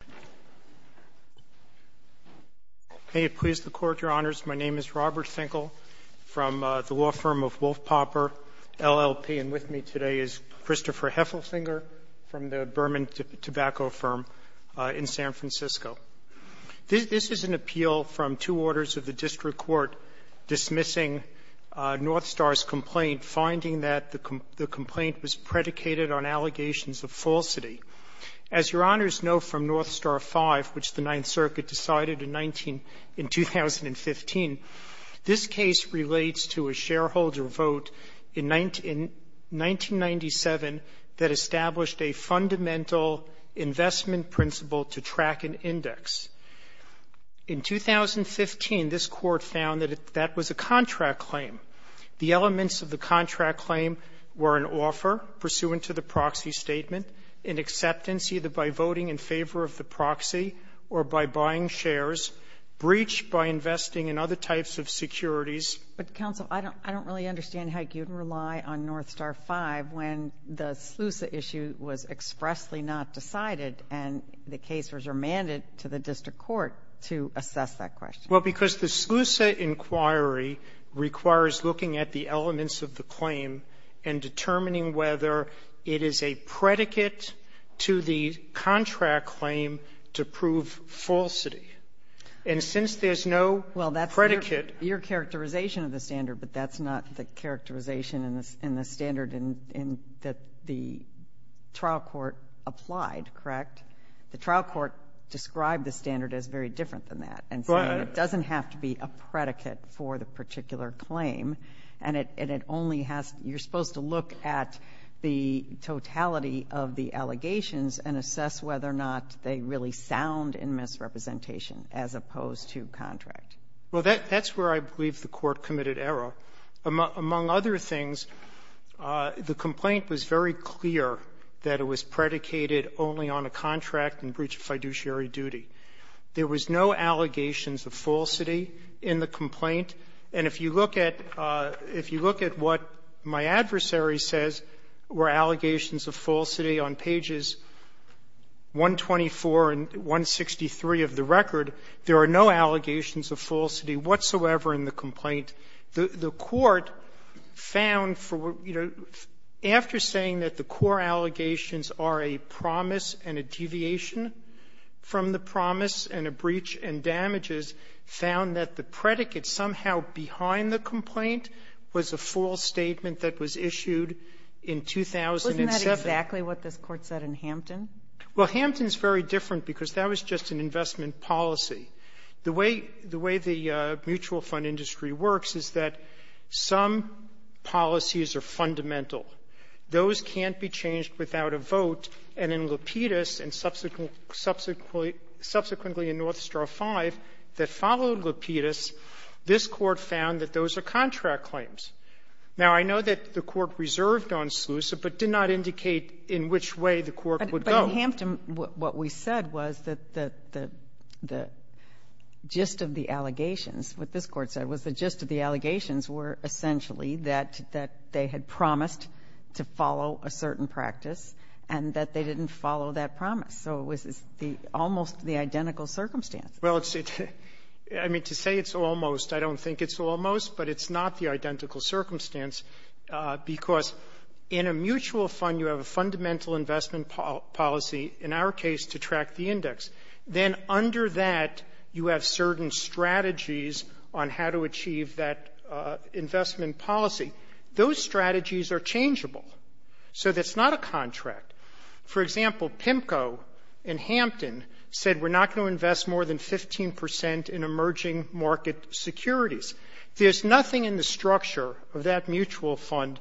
Robert Finkel, Law Firm of Wolf Pauper, LLP Christopher Heffelfinger, Burman Tobacco Appeal from two orders of the District Court dismissing Northstar's complaint, finding that the complaint was predicated on allegations of falsity. As Your Honors know from Northstar V, which the Ninth Circuit decided in 19 — in 2015, this case relates to a shareholder vote in 1997 that established a fundamental investment principle to track an index. In 2015, this Court found that that was a contract claim. The elements of the contract claim were an offer pursuant to the proxy statement, an acceptance either by voting in favor of the proxy or by buying shares, breach by investing in other types of securities. But, Counsel, I don't really understand how you can rely on Northstar V when the SLUSA issue was expressly not decided and the case was remanded to the District Court to assess that question. Well, because the SLUSA inquiry requires looking at the elements of the claim and determining whether it is a predicate to the contract claim to prove falsity. And since there's no predicate — Well, that's your characterization of the standard, but that's not the characterization in the standard in — that the trial court applied, correct? The trial court described the standard as very different than that and said it doesn't have to be a predicate for the particular claim. And it only has — you're supposed to look at the totality of the allegations and assess whether or not they really sound in misrepresentation as opposed to contract. Well, that's where I believe the Court committed error. Among other things, the complaint was very clear that it was predicated only on a contract and breach of fiduciary duty. There was no allegations of falsity in the complaint. And if you look at what my adversary says were allegations of falsity on pages 124 and 163 of the record, there are no allegations of falsity whatsoever in the complaint. The Court found for — you know, after saying that the core allegations are a promise and a deviation from the promise and a breach and damages, found that the predicate somehow behind the complaint was a false statement that was issued in 2007. Wasn't that exactly what this Court said in Hampton? Well, Hampton's very different because that was just an investment policy. The way the mutual fund industry works is that some policies are fundamental. Those can't be changed without a vote. And in Lapidus and subsequently in North Straw V that followed Lapidus, this Court found that those are contract claims. Now, I know that the Court reserved on SLUSA but did not indicate in which way the Court would go. In Hampton, what we said was that the gist of the allegations, what this Court said, was the gist of the allegations were essentially that they had promised to follow a certain practice and that they didn't follow that promise. So it was almost the identical circumstance. Well, it's — I mean, to say it's almost, I don't think it's almost, but it's not the identical circumstance because in a mutual fund, you have a fundamental investment policy, in our case, to track the index. Then under that, you have certain strategies on how to achieve that investment policy. Those strategies are changeable. So that's not a contract. For example, PIMCO in Hampton said we're not going to invest more than 15 percent in emerging market securities. There's nothing in the structure of that mutual fund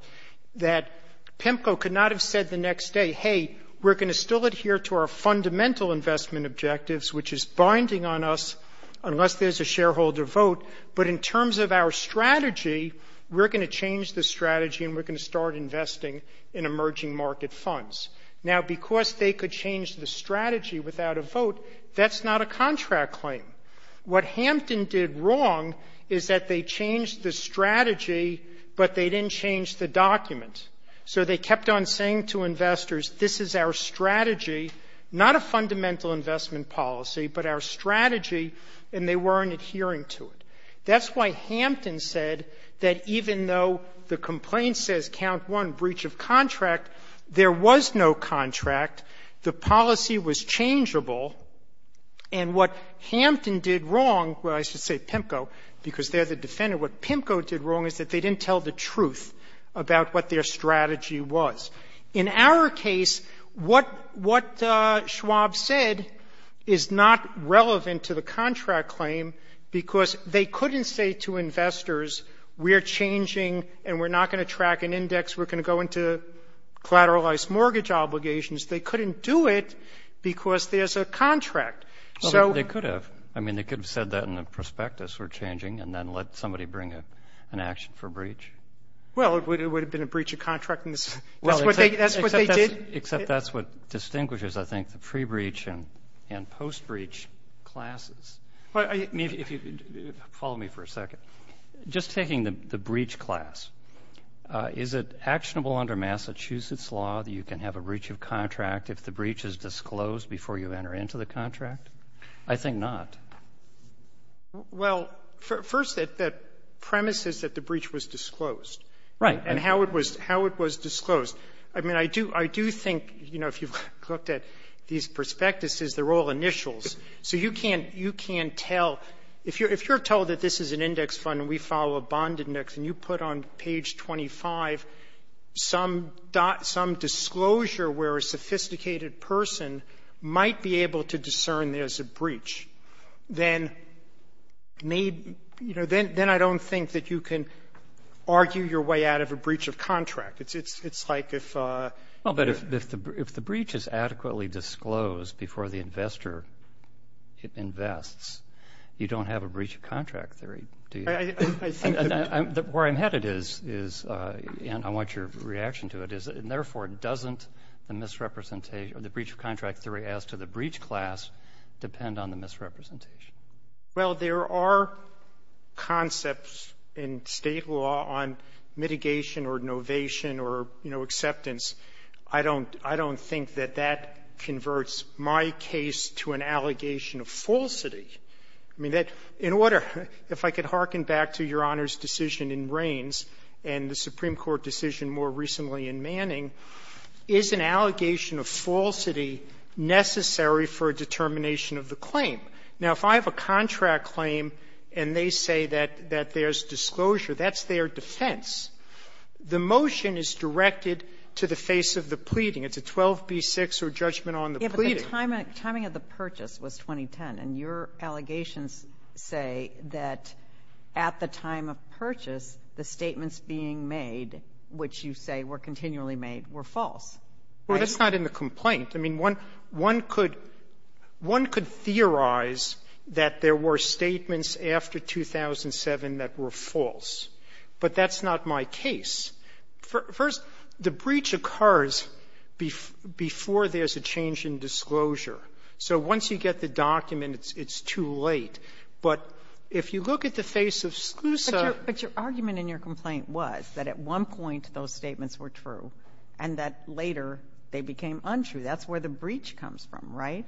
that PIMCO could not have said the next day, hey, we're going to still adhere to our fundamental investment objectives, which is binding on us unless there's a shareholder vote. But in terms of our strategy, we're going to change the strategy and we're going to start investing in emerging market funds. Now, because they could change the strategy without a vote, that's not a contract claim. What Hampton did wrong is that they changed the strategy, but they didn't change the document. So they kept on saying to investors, this is our strategy, not a fundamental investment policy, but our strategy, and they weren't adhering to it. That's why Hampton said that even though the complaint says count one, breach of contract, there was no contract. The policy was changeable. And what Hampton did wrong, well, I should say PIMCO, because they're the defendant, what PIMCO did wrong is that they didn't tell the truth about what their strategy In our case, what Schwab said is not relevant to the contract claim because they couldn't say to investors, we're changing and we're not going to track an index, we're going to go into collateralized mortgage obligations. They couldn't do it because there's a contract. So they could have. I mean, they could have said that in the prospectus, we're changing, and then let somebody bring an action for breach. Well, it would have been a breach of contract, and that's what they did. Except that's what distinguishes, I think, the pre-breach and post-breach classes. I mean, if you'd follow me for a second, just taking the breach class, is it actionable under Massachusetts law that you can have a breach of contract if the breach is disclosed before you enter into the contract? I think not. Well, first, the premise is that the breach was disclosed. Right. And how it was disclosed. I mean, I do think, you know, if you've looked at these prospectuses, they're all initials. So you can't tell. If you're told that this is an index fund and we follow a bond index and you put on then I don't think that you can argue your way out of a breach of contract. It's like if... Well, but if the breach is adequately disclosed before the investor invests, you don't have a breach of contract theory, do you? I think that... Where I'm headed is, and I want your reaction to it, is, and therefore doesn't the misrepresentation or the breach of contract theory as to the breach class depend on the misrepresentation. Well, there are concepts in State law on mitigation or innovation or, you know, acceptance. I don't think that that converts my case to an allegation of falsity. I mean, in order, if I could hearken back to Your Honor's decision in Rains and the Planning, is an allegation of falsity necessary for a determination of the claim? Now, if I have a contract claim and they say that there's disclosure, that's their defense. The motion is directed to the face of the pleading. It's a 12b-6 or judgment on the pleading. Yeah, but the timing of the purchase was 2010, and your allegations say that at the Well, that's not in the complaint. I mean, one could, one could theorize that there were statements after 2007 that were false. But that's not my case. First, the breach occurs before there's a change in disclosure. So once you get the document, it's too late. But if you look at the face of SLUSA... And that later they became untrue. That's where the breach comes from, right?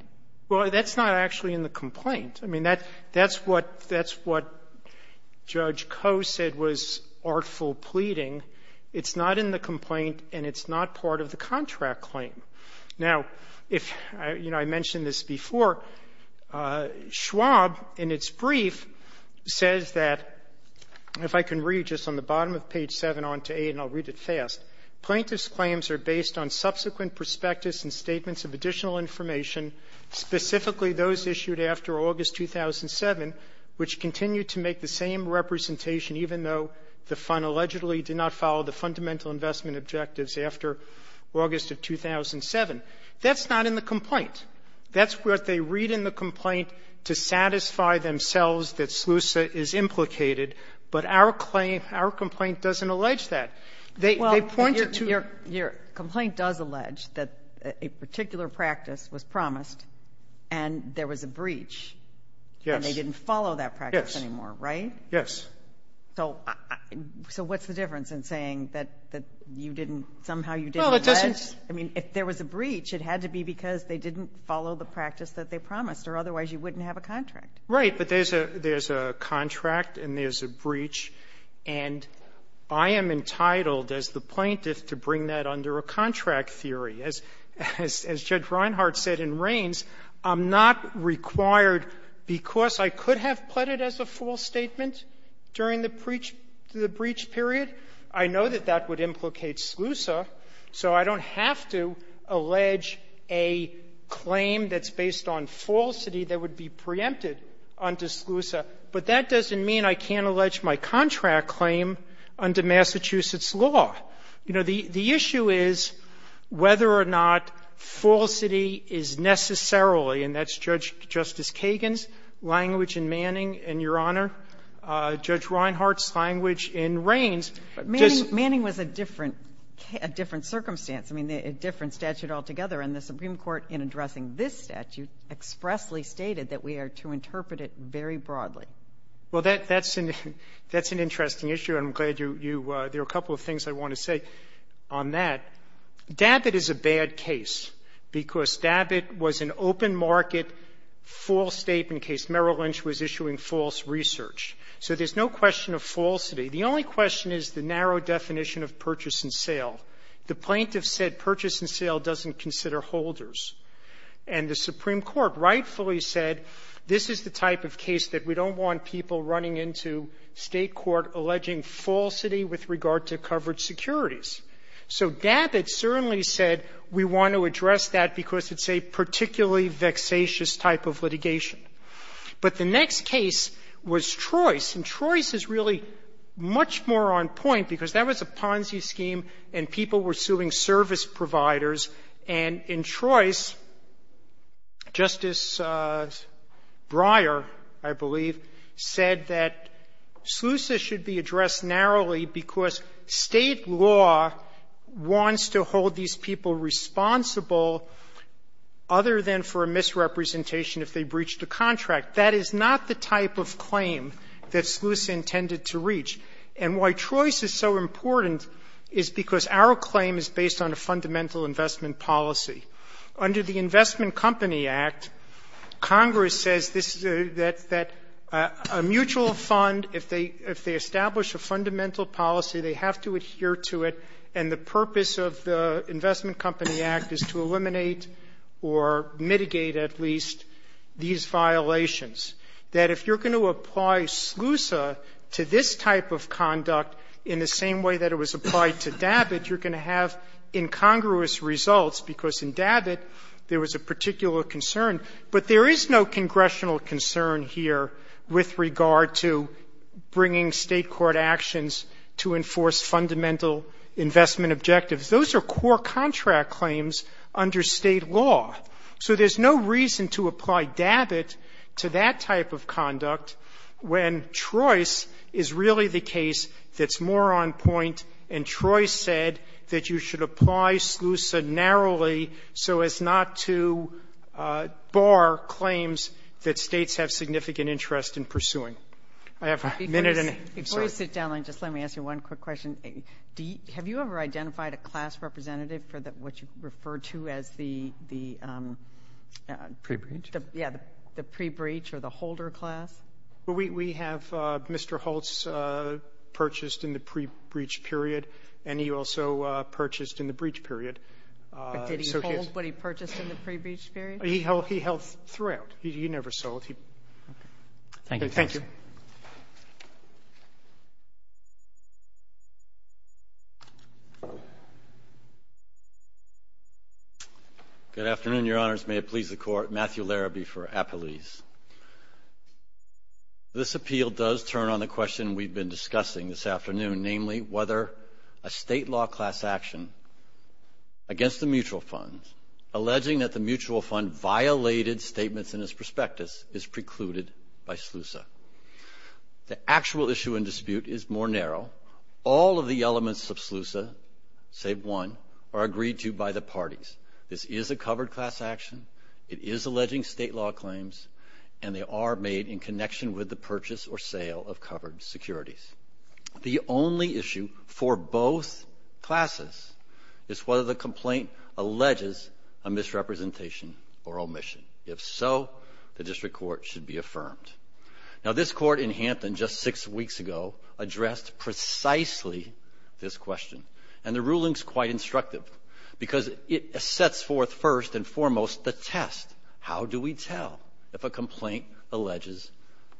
Well, that's not actually in the complaint. I mean, that's what Judge Koh said was artful pleading. It's not in the complaint, and it's not part of the contract claim. Now, if, you know, I mentioned this before, Schwab, in its brief, says that, if I can read just on the bottom of page 7 on to 8, and I'll read it fast, Plaintiff's claims are based on subsequent perspectives and statements of additional information, specifically those issued after August 2007, which continue to make the same representation, even though the Fund allegedly did not follow the fundamental investment objectives after August of 2007. That's not in the complaint. That's what they read in the complaint to satisfy themselves that SLUSA is implicated, but our complaint doesn't allege that. They point it to... Well, your complaint does allege that a particular practice was promised and there was a breach, and they didn't follow that practice anymore, right? Yes. So what's the difference in saying that somehow you didn't allege? Well, it doesn't... I mean, if there was a breach, it had to be because they didn't follow the practice that they promised, or otherwise you wouldn't have a contract. Right. But there's a contract and there's a breach, and I am entitled as the plaintiff to bring that under a contract theory. As Judge Reinhart said in Rains, I'm not required because I could have pled it as a false statement during the breach period. I know that that would implicate SLUSA, so I don't have to allege a claim that's preempted under SLUSA. But that doesn't mean I can't allege my contract claim under Massachusetts law. You know, the issue is whether or not falsity is necessarily, and that's Judge Justice Kagan's language in Manning and your Honor, Judge Reinhart's language in Rains. Manning was a different circumstance, I mean, a different statute altogether. And the Supreme Court, in addressing this statute, expressly stated that we are to interpret it very broadly. Well, that's an interesting issue, and I'm glad you — there are a couple of things I want to say on that. DABIT is a bad case because DABIT was an open market false statement case. Merrill Lynch was issuing false research. So there's no question of falsity. The only question is the narrow definition of purchase and sale. The plaintiff said purchase and sale doesn't consider holders. And the Supreme Court rightfully said this is the type of case that we don't want people running into State court alleging falsity with regard to covered securities. So DABIT certainly said we want to address that because it's a particularly vexatious type of litigation. But the next case was Trois. And Trois is really much more on point because that was a Ponzi scheme and people were suing service providers, and in Trois, Justice Breyer, I believe, said that SLUSA should be addressed narrowly because State law wants to hold these people responsible other than for a misrepresentation if they breach the contract. That is not the type of claim that SLUSA intended to reach. And why Trois is so important is because our claim is based on a fundamental investment policy. Under the Investment Company Act, Congress says this, that a mutual fund, if they establish a fundamental policy, they have to adhere to it, and the purpose of the if you're going to apply SLUSA to this type of conduct in the same way that it was applied to DABIT, you're going to have incongruous results, because in DABIT, there was a particular concern. But there is no congressional concern here with regard to bringing State court actions to enforce fundamental investment objectives. Those are core contract claims under State law. So there's no reason to apply DABIT to that type of conduct when Trois is really the case that's more on point, and Trois said that you should apply SLUSA narrowly so as not to bar claims that States have significant interest in pursuing. I have a minute and a half. I'm sorry. Ginsburg. Before you sit down, just let me ask you one quick question. Have you ever identified a class representative for what you refer to as the pre-breach or the holder class? We have Mr. Holtz purchased in the pre-breach period, and he also purchased in the breach period. But did he hold what he purchased in the pre-breach period? He held throughout. He never sold. Thank you. Thank you. Good afternoon, Your Honors. May it please the Court. Matthew Larrabee for Appelese. This appeal does turn on the question we've been discussing this afternoon, namely, whether a State law class action against the mutual fund, alleging that the mutual fund violated statements in its prospectus, is precluded by SLUSA. The actual issue in dispute is more narrow. All of the elements of SLUSA, save one, are agreed to by the parties. This is a covered class action. It is alleging State law claims, and they are made in connection with the purchase or sale of covered securities. The only issue for both classes is whether the complaint alleges a misrepresentation or omission. If so, the District Court should be affirmed. Now, this Court in Hampton just six weeks ago addressed precisely this question. And the ruling is quite instructive because it sets forth first and foremost the test. How do we tell if a complaint alleges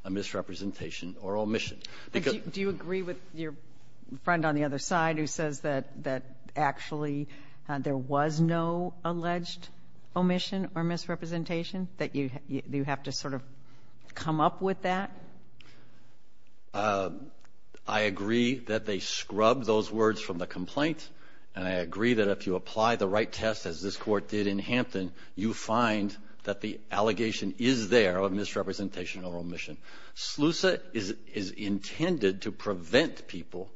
a misrepresentation or omission? Do you agree with your friend on the other side who says that actually there was no alleged omission or misrepresentation? That you have to sort of come up with that? I agree that they scrub those words from the complaint, and I agree that if you apply the right test, as this Court did in Hampton, you find that the allegation is there of misrepresentation or omission. SLUSA is intended to prevent people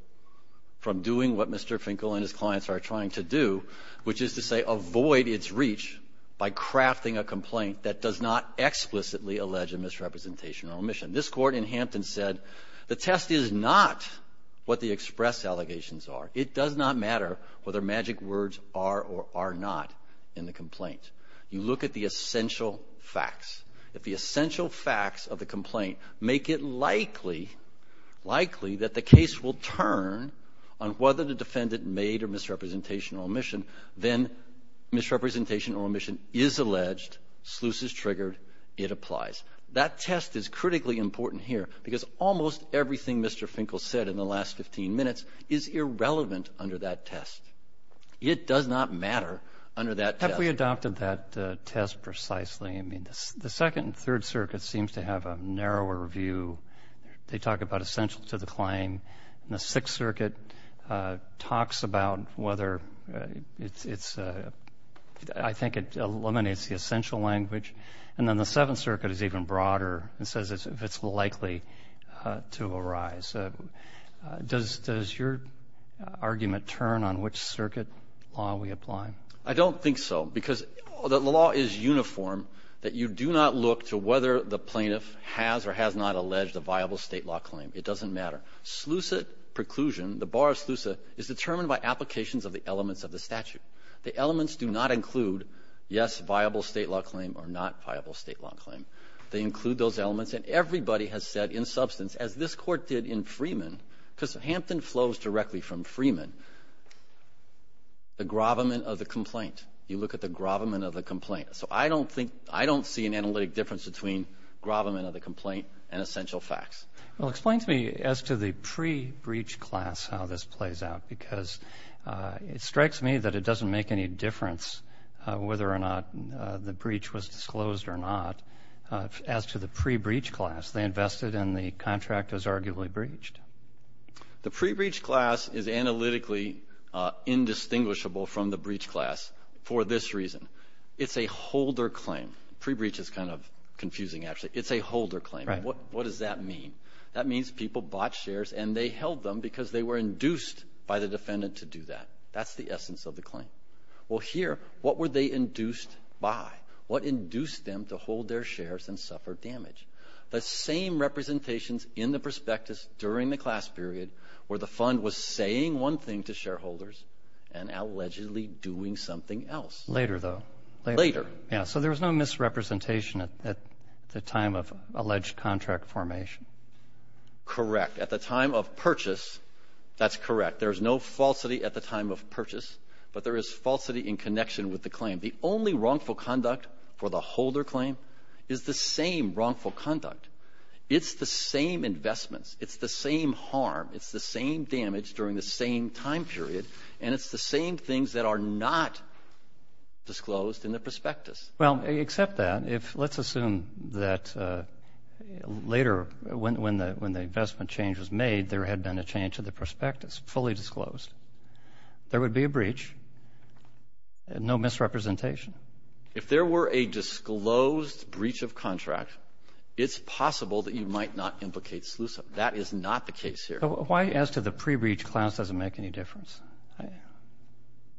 from doing what Mr. Finkel and his clients are trying to do, which is to say avoid its reach by crafting a complaint that does not explicitly allege a misrepresentation or omission. This Court in Hampton said the test is not what the express allegations are. It does not matter whether magic words are or are not in the complaint. You look at the essential facts. If the essential facts of the complaint make it likely, likely that the case will turn on whether the defendant made a misrepresentation or omission, then misrepresentation or omission is alleged, SLUSA is triggered, it applies. That test is critically important here because almost everything Mr. Finkel said in the last 15 minutes is irrelevant under that test. It does not matter under that test. Have we adopted that test precisely? I mean, the Second and Third Circuits seems to have a narrower view. They talk about essential to the claim. The Sixth Circuit talks about whether it's, I think it eliminates the essential language. And then the Seventh Circuit is even broader and says if it's likely to arise. Does your argument turn on which circuit law we apply? I don't think so because the law is uniform that you do not look to whether the defendant managed a viable state law claim. It doesn't matter. SLUSA preclusion, the bar of SLUSA, is determined by applications of the elements of the statute. The elements do not include, yes, viable state law claim or not viable state law claim. They include those elements and everybody has said in substance, as this court did in Freeman, because Hampton flows directly from Freeman, the gravamen of the complaint. You look at the gravamen of the complaint. So I don't think, I don't see an analytic difference between gravamen of the facts. Well, explain to me as to the pre-breach class how this plays out because it strikes me that it doesn't make any difference whether or not the breach was disclosed or not. As to the pre-breach class, they invested and the contract was arguably breached. The pre-breach class is analytically indistinguishable from the breach class for this reason. It's a holder claim. Pre-breach is kind of confusing, actually. It's a holder claim. What does that mean? That means people bought shares and they held them because they were induced by the defendant to do that. That's the essence of the claim. Well, here, what were they induced by? What induced them to hold their shares and suffer damage? The same representations in the prospectus during the class period where the fund was saying one thing to shareholders and allegedly doing something else. Later, though. Later. Yeah. So there was no misrepresentation at the time of alleged contract formation. Correct. At the time of purchase, that's correct. There is no falsity at the time of purchase, but there is falsity in connection with the claim. The only wrongful conduct for the holder claim is the same wrongful conduct. It's the same investments. It's the same harm. It's the same damage during the same time period. And it's the same things that are not disclosed in the prospectus. Well, except that, let's assume that later when the investment change was made, there had been a change to the prospectus, fully disclosed. There would be a breach. No misrepresentation. If there were a disclosed breach of contract, it's possible that you might not implicate SLUSA. That is not the case here. Why, as to the pre-breach class, does it make any difference?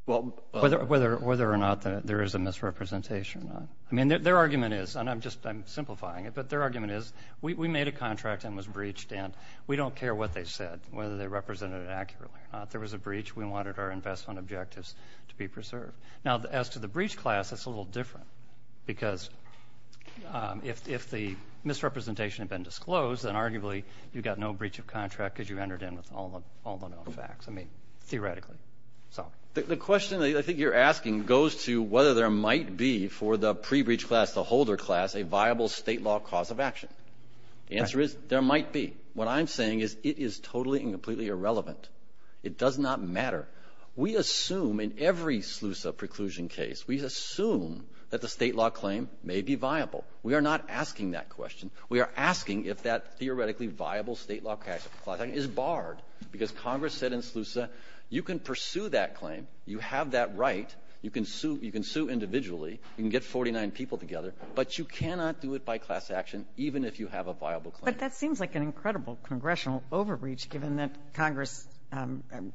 Whether or not there is a misrepresentation or not. I mean, their argument is, and I'm simplifying it, but their argument is we made a contract and it was breached, and we don't care what they said, whether they represented it accurately or not. If there was a breach, we wanted our investment objectives to be preserved. Now, as to the breach class, it's a little different, because if the misrepresentation had been disclosed, then arguably you got no breach of contract because you entered in with all the known facts. I mean, theoretically. The question I think you're asking goes to whether there might be for the pre-breach class, the holder class, a viable state law cause of action. The answer is there might be. What I'm saying is it is totally and completely irrelevant. It does not matter. We assume in every SLUSA preclusion case, we assume that the state law claim may be viable. We are not asking that question. We are asking if that theoretically viable state law cause of action is barred, because Congress said in SLUSA you can pursue that claim, you have that right, you can sue individually, you can get 49 people together, but you cannot do it by class action even if you have a viable claim. But that seems like an incredible congressional overreach, given that Congress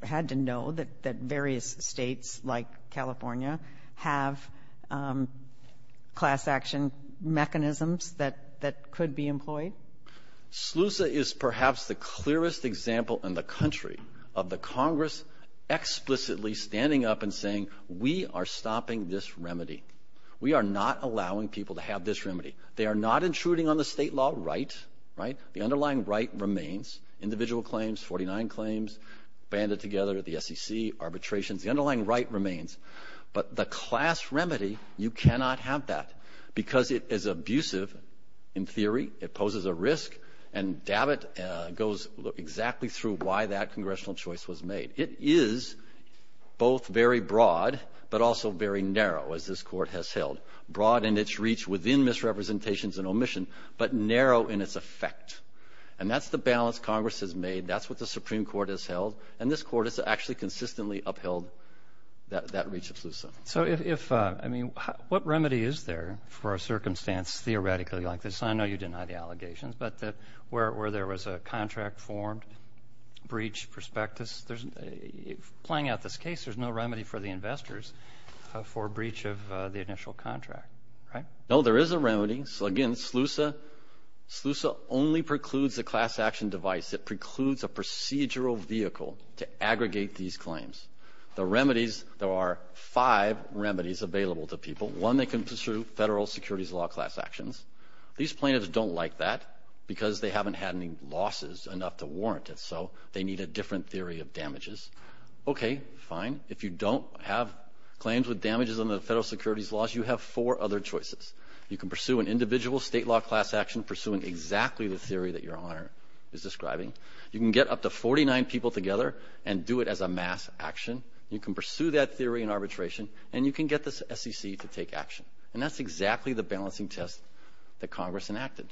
had to know that various states like California have class action mechanisms that could be employed. SLUSA is perhaps the clearest example in the country of the Congress explicitly standing up and saying we are stopping this remedy. We are not allowing people to have this remedy. They are not intruding on the state law right. The underlying right remains. Individual claims, 49 claims, banded together at the SEC, arbitrations, the underlying right remains, but the class remedy, you cannot have that, because it is abusive in theory, it poses a risk, and David goes exactly through why that congressional choice was made. It is both very broad, but also very narrow, as this Court has held, broad in its reach within misrepresentations and omission, but narrow in its effect. And that's the balance Congress has made. That's what the Supreme Court has held. And this Court has actually consistently upheld that reach of SLUSA. So if, I mean, what remedy is there for a circumstance theoretically like this? I know you deny the allegations, but where there was a contract formed, breach prospectus, playing out this case, there's no remedy for the investors for breach of the initial contract, right? No, there is a remedy. So again, SLUSA only precludes the class action device. It precludes a procedural vehicle to aggregate these claims. The remedies, there are five remedies available to people. One, they can pursue federal securities law class actions. These plaintiffs don't like that, because they haven't had any losses enough to warrant it, so they need a different theory of damages. Okay, fine, if you don't have claims with damages under the federal securities laws, you have four other choices. You can pursue an individual state law class action, pursuing exactly the theory that Your Honor is describing. You can get up to 49 people together and do it as a mass action. You can pursue that theory in arbitration, and you can get the SEC to take action. And that's exactly the balancing test that Congress enacted.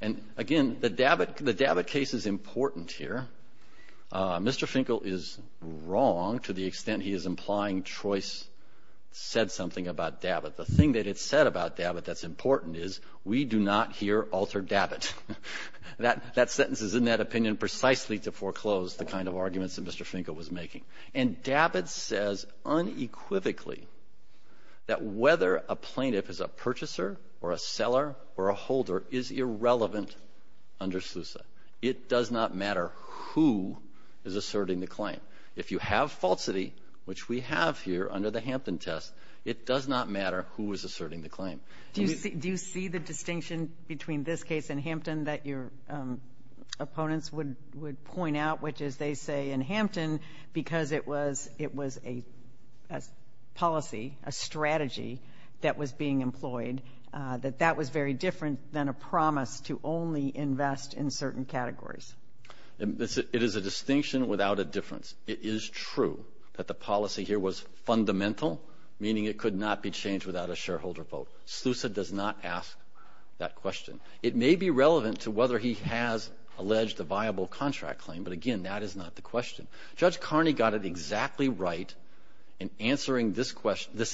And again, the Davit case is important here. Mr. Finkel is wrong to the extent he is implying Troyce said something about Davit. The thing that it said about Davit that's important is we do not here alter Davit. That sentence is in that opinion precisely to foreclose the kind of arguments that Mr. Finkel was making. And Davit says unequivocally that whether a plaintiff is a purchaser or a seller or a holder is irrelevant under SLUSA. It does not matter who is asserting the claim. If you have falsity, which we have here under the Hampton test, it does not matter who is asserting the claim. Do you see the distinction between this case in Hampton that your opponents would point out, which is they say in Hampton because it was a policy, a strategy that was being employed, that that was very different than a promise to only invest in certain categories? It is a distinction without a difference. It is true that the policy here was fundamental, meaning it could not be changed without a shareholder vote. SLUSA does not ask that question. It may be relevant to whether he has alleged a viable contract claim, but again, that is not the question. Judge Carney got it exactly right in answering this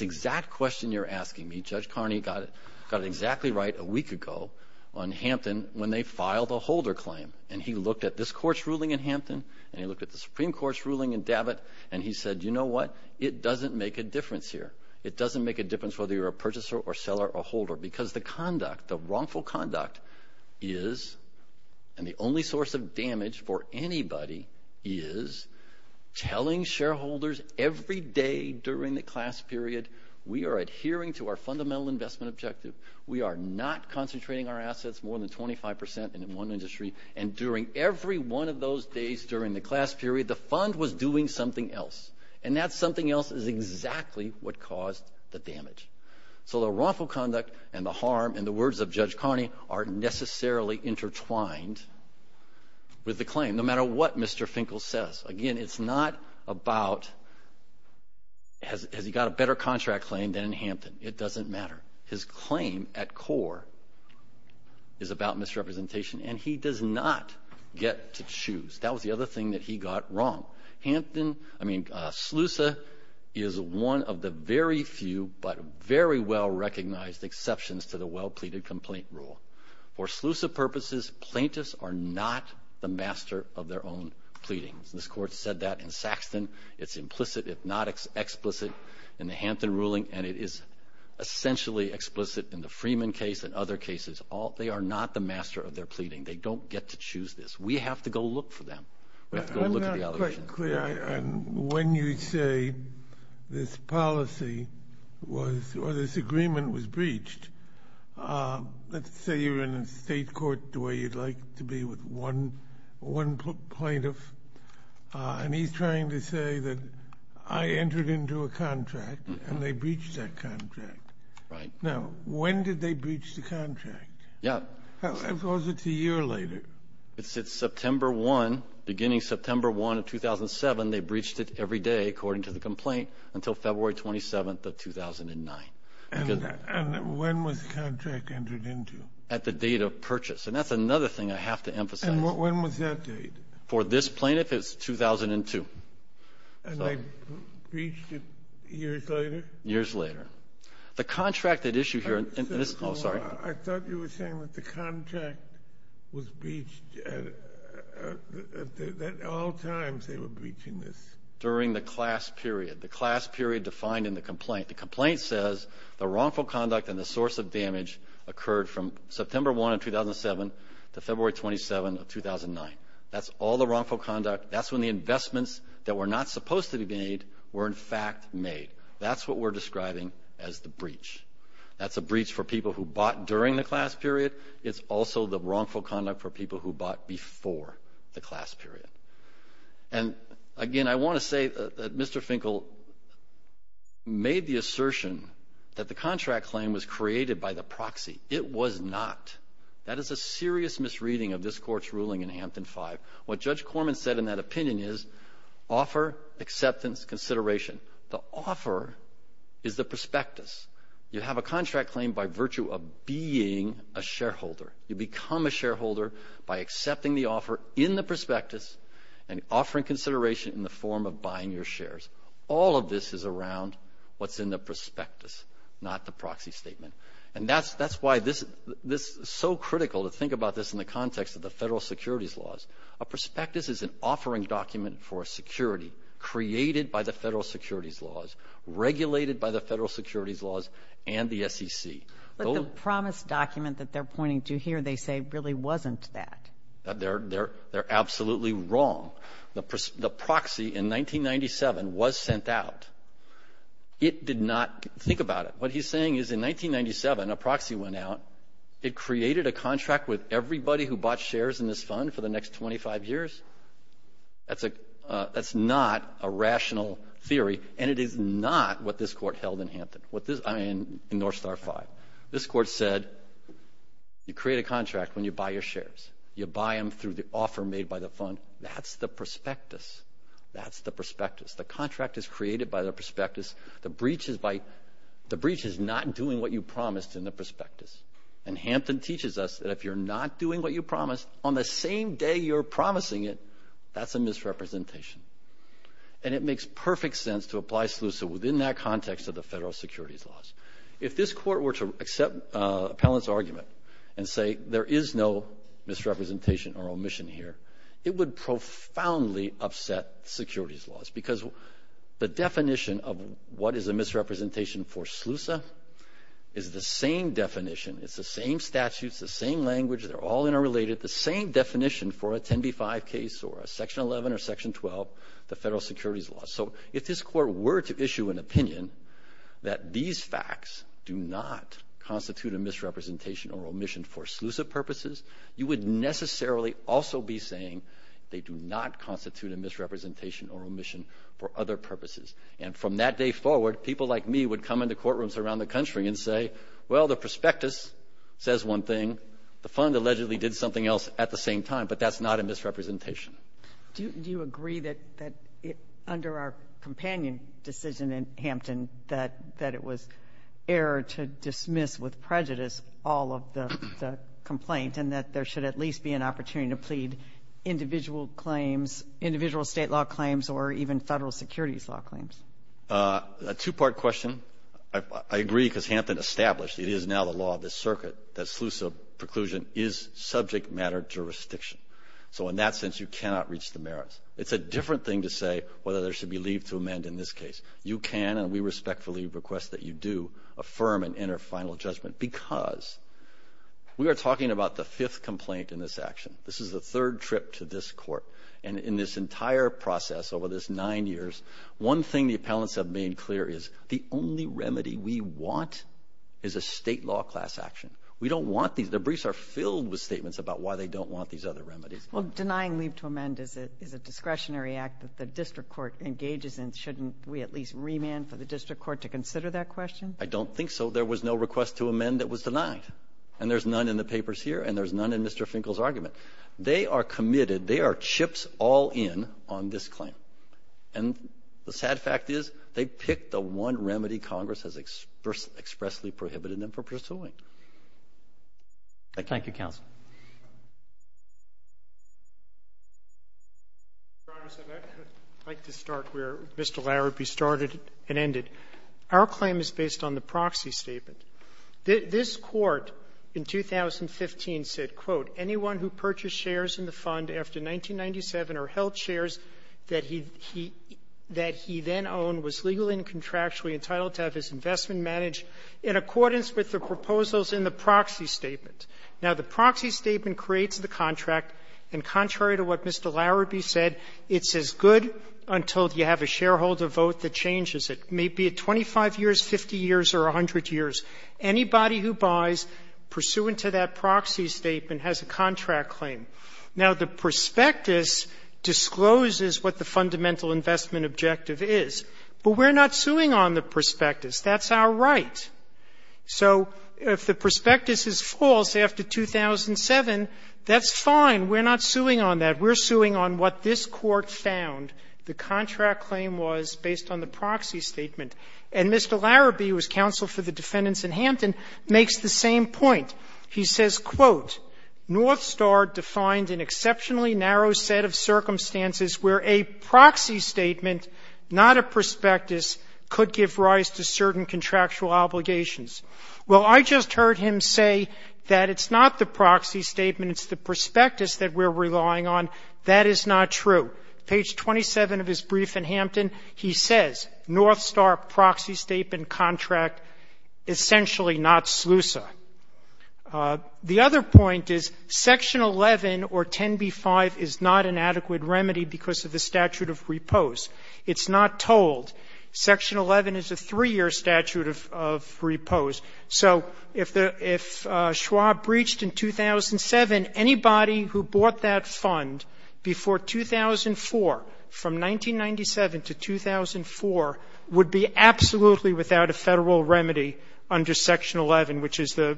exact question you're asking me. Judge Carney got it exactly right a week ago on Hampton when they filed a holder claim, and he looked at this Court's ruling in Hampton, and he looked at the Supreme Court's ruling in Davit, and he said, you know what, it doesn't make a difference here. It doesn't make a difference whether you're a purchaser or seller or holder because the conduct, the wrongful conduct is, and the only source of damage for anybody is, telling shareholders every day during the class period, we are adhering to our fundamental investment objective. We are not concentrating our assets more than 25 percent in one industry, and during every one of those days during the class period, the fund was doing something else, and that something else is exactly what caused the damage. So the wrongful conduct and the harm, in the words of Judge Carney, are necessarily intertwined with the claim, no matter what Mr. Finkel says. Again, it's not about has he got a better contract claim than in Hampton. It doesn't matter. His claim at core is about misrepresentation, and he does not get to choose. That was the other thing that he got wrong. Hampton, I mean, SLUSA is one of the very few but very well-recognized exceptions to the well-pleaded complaint rule. For SLUSA purposes, plaintiffs are not the master of their own pleadings. This Court said that in Saxton. It's implicit, if not explicit, in the Hampton ruling, and it is essentially explicit in the Freeman case and other cases. They are not the master of their pleading. They don't get to choose this. We have to go look for them. We have to go look at the allegations. When you say this policy was or this agreement was breached, let's say you're in a state court the way you'd like to be with one plaintiff, and he's trying to say that I entered into a contract and they breached that contract. Right. Now, when did they breach the contract? Yeah. Or was it a year later? It's September 1, beginning September 1 of 2007. They breached it every day, according to the complaint, until February 27 of 2009. And when was the contract entered into? At the date of purchase, and that's another thing I have to emphasize. And when was that date? For this plaintiff, it was 2002. And they breached it years later? Years later. I thought you were saying that the contract was breached at all times they were breaching this. During the class period, the class period defined in the complaint. The complaint says the wrongful conduct and the source of damage occurred from September 1 of 2007 to February 27 of 2009. That's all the wrongful conduct. That's when the investments that were not supposed to be made were, in fact, made. That's what we're describing as the breach. That's a breach for people who bought during the class period. It's also the wrongful conduct for people who bought before the class period. And, again, I want to say that Mr. Finkel made the assertion that the contract claim was created by the proxy. It was not. That is a serious misreading of this Court's ruling in Hampton 5. What Judge Corman said in that opinion is offer, acceptance, consideration. The offer is the prospectus. You have a contract claim by virtue of being a shareholder. You become a shareholder by accepting the offer in the prospectus and offering consideration in the form of buying your shares. All of this is around what's in the prospectus, not the proxy statement. And that's why this is so critical to think about this in the context of the federal securities laws. A prospectus is an offering document for security created by the federal securities laws, regulated by the federal securities laws, and the SEC. But the promise document that they're pointing to here, they say, really wasn't that. They're absolutely wrong. The proxy in 1997 was sent out. It did not think about it. What he's saying is in 1997, a proxy went out. It created a contract with everybody who bought shares in this fund for the next 25 years. That's not a rational theory, and it is not what this Court held in Hampton, I mean, in North Star 5. This Court said, you create a contract when you buy your shares. You buy them through the offer made by the fund. That's the prospectus. That's the prospectus. The contract is created by the prospectus. The breach is not doing what you promised in the prospectus. And Hampton teaches us that if you're not doing what you promised, on the same day you're promising it, that's a misrepresentation. And it makes perfect sense to apply SLUSA within that context of the federal securities laws. If this Court were to accept Appellant's argument and say there is no misrepresentation or omission here, it would profoundly upset securities laws because the definition of what is a misrepresentation for SLUSA is the same definition. It's the same statutes, the same language. They're all interrelated. The same definition for a 10b-5 case or a Section 11 or Section 12, the federal securities laws. So if this Court were to issue an opinion that these facts do not constitute a misrepresentation or omission for SLUSA purposes, you would necessarily also be saying they do not constitute a misrepresentation or omission for other purposes. And from that day forward, people like me would come into courtrooms around the country and say, well, the prospectus says one thing, the fund allegedly did something else at the same time, but that's not a misrepresentation. Do you agree that under our companion decision in Hampton that it was error to dismiss with prejudice all of the complaint and that there should at least be an opportunity to plead individual claims, individual state law claims, or even federal securities law claims? A two-part question. I agree because Hampton established it is now the law of the circuit that SLUSA preclusion is subject matter jurisdiction. So in that sense, you cannot reach the merits. It's a different thing to say whether there should be leave to amend in this case. You can, and we respectfully request that you do, affirm an inner final judgment because we are talking about the fifth complaint in this action. This is the third trip to this court, and in this entire process over this nine years, one thing the appellants have made clear is the only remedy we want is a state law class action. We don't want these. The briefs are filled with statements about why they don't want these other remedies. Well, denying leave to amend is a discretionary act that the district court engages in. Shouldn't we at least remand for the district court to consider that question? I don't think so. There was no request to amend that was denied, and there's none in the papers here, and there's none in Mr. Finkel's argument. They are committed. They are chips all in on this claim. And the sad fact is they picked the one remedy Congress has expressly prohibited them from pursuing. Thank you. Roberts. I'd like to start where Mr. Larrabee started and ended. Our claim is based on the proxy statement. This Court in 2015 said, quote, anyone who purchased shares in the fund after 1997 or held shares that he then owned was legally and contractually entitled to have his investment managed in accordance with the proposals in the proxy statement. Now, the proxy statement creates the contract, and contrary to what Mr. Larrabee said, it's as good until you have a shareholder vote that changes it. It may be 25 years, 50 years, or 100 years. Anybody who buys pursuant to that proxy statement has a contract claim. Now, the prospectus discloses what the fundamental investment objective is, but we're not suing on the prospectus. That's our right. So if the prospectus is false after 2007, that's fine. We're not suing on that. We're suing on what this Court found the contract claim was based on the proxy statement. And Mr. Larrabee, who is counsel for the defendants in Hampton, makes the same point. He says, quote, ''North Star defined an exceptionally narrow set of circumstances where a proxy statement, not a prospectus, could give rise to certain contractual obligations.'' Well, I just heard him say that it's not the proxy statement, it's the prospectus that we're relying on. That is not true. Page 27 of his brief in Hampton, he says, ''North Star proxy statement contract essentially not SLUSA.'' The other point is Section 11 or 10b-5 is not an adequate remedy because of the statute of repose. It's not told. Section 11 is a 3-year statute of repose. So if Schwab breached in 2007, anybody who bought that fund before 2004, from 1997 to 2004, would be absolutely without a Federal remedy under Section 11, which is the,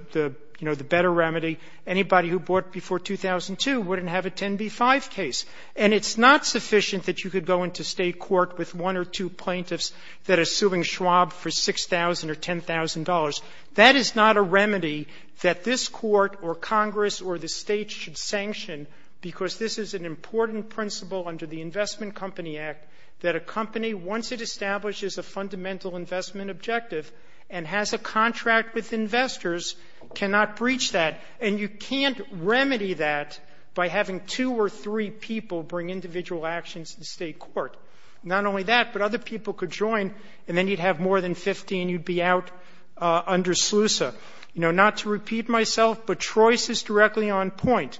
you know, the better remedy. Anybody who bought before 2002 wouldn't have a 10b-5 case. And it's not sufficient that you could go into State court with one or two plaintiffs that are suing Schwab for $6,000 or $10,000. That is not a remedy that this Court or Congress or the States should sanction because this is an important principle under the Investment Company Act that a company, once it establishes a fundamental investment objective and has a contract with investors, cannot breach that. And you can't remedy that by having two or three people bring individual actions to State court. Not only that, but other people could join and then you'd have more than 50 and you'd be out under SLUSA. You know, not to repeat myself, but Troyes is directly on point.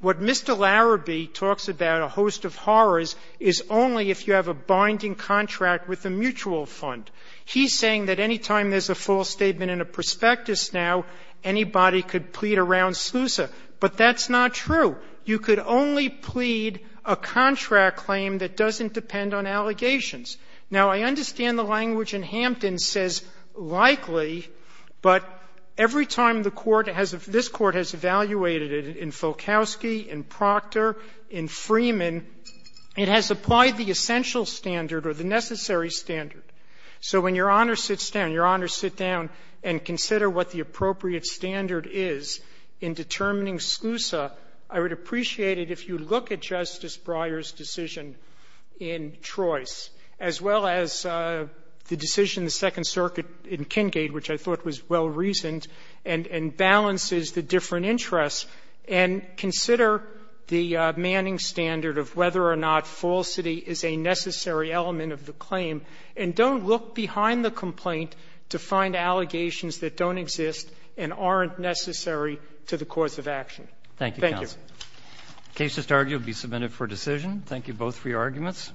What Mr. Larrabee talks about, a host of horrors, is only if you have a binding contract with a mutual fund. He's saying that any time there's a false statement in a prospectus now, anybody could plead around SLUSA. But that's not true. You could only plead a contract claim that doesn't depend on allegations. Now, I understand the language in Hampton says, likely, but every time the Court has a — this Court has evaluated it in Fulkowski, in Proctor, in Freeman, it has applied the essential standard or the necessary standard. So when Your Honor sits down, Your Honor sit down and consider what the appropriate standard is in determining SLUSA, I would appreciate it if you look at Justice Breyer's decision in Troyes, as well as the decision in the Second Circuit in Kengade, which I thought was well-reasoned, and balances the different interests, and consider the Manning standard of whether or not falsity is a necessary element of the claim. And don't look behind the complaint to find allegations that don't exist and aren't necessary to the cause of action. Thank you. Roberts. Thank you, counsel. The case just argued will be submitted for decision. Thank you both for your arguments.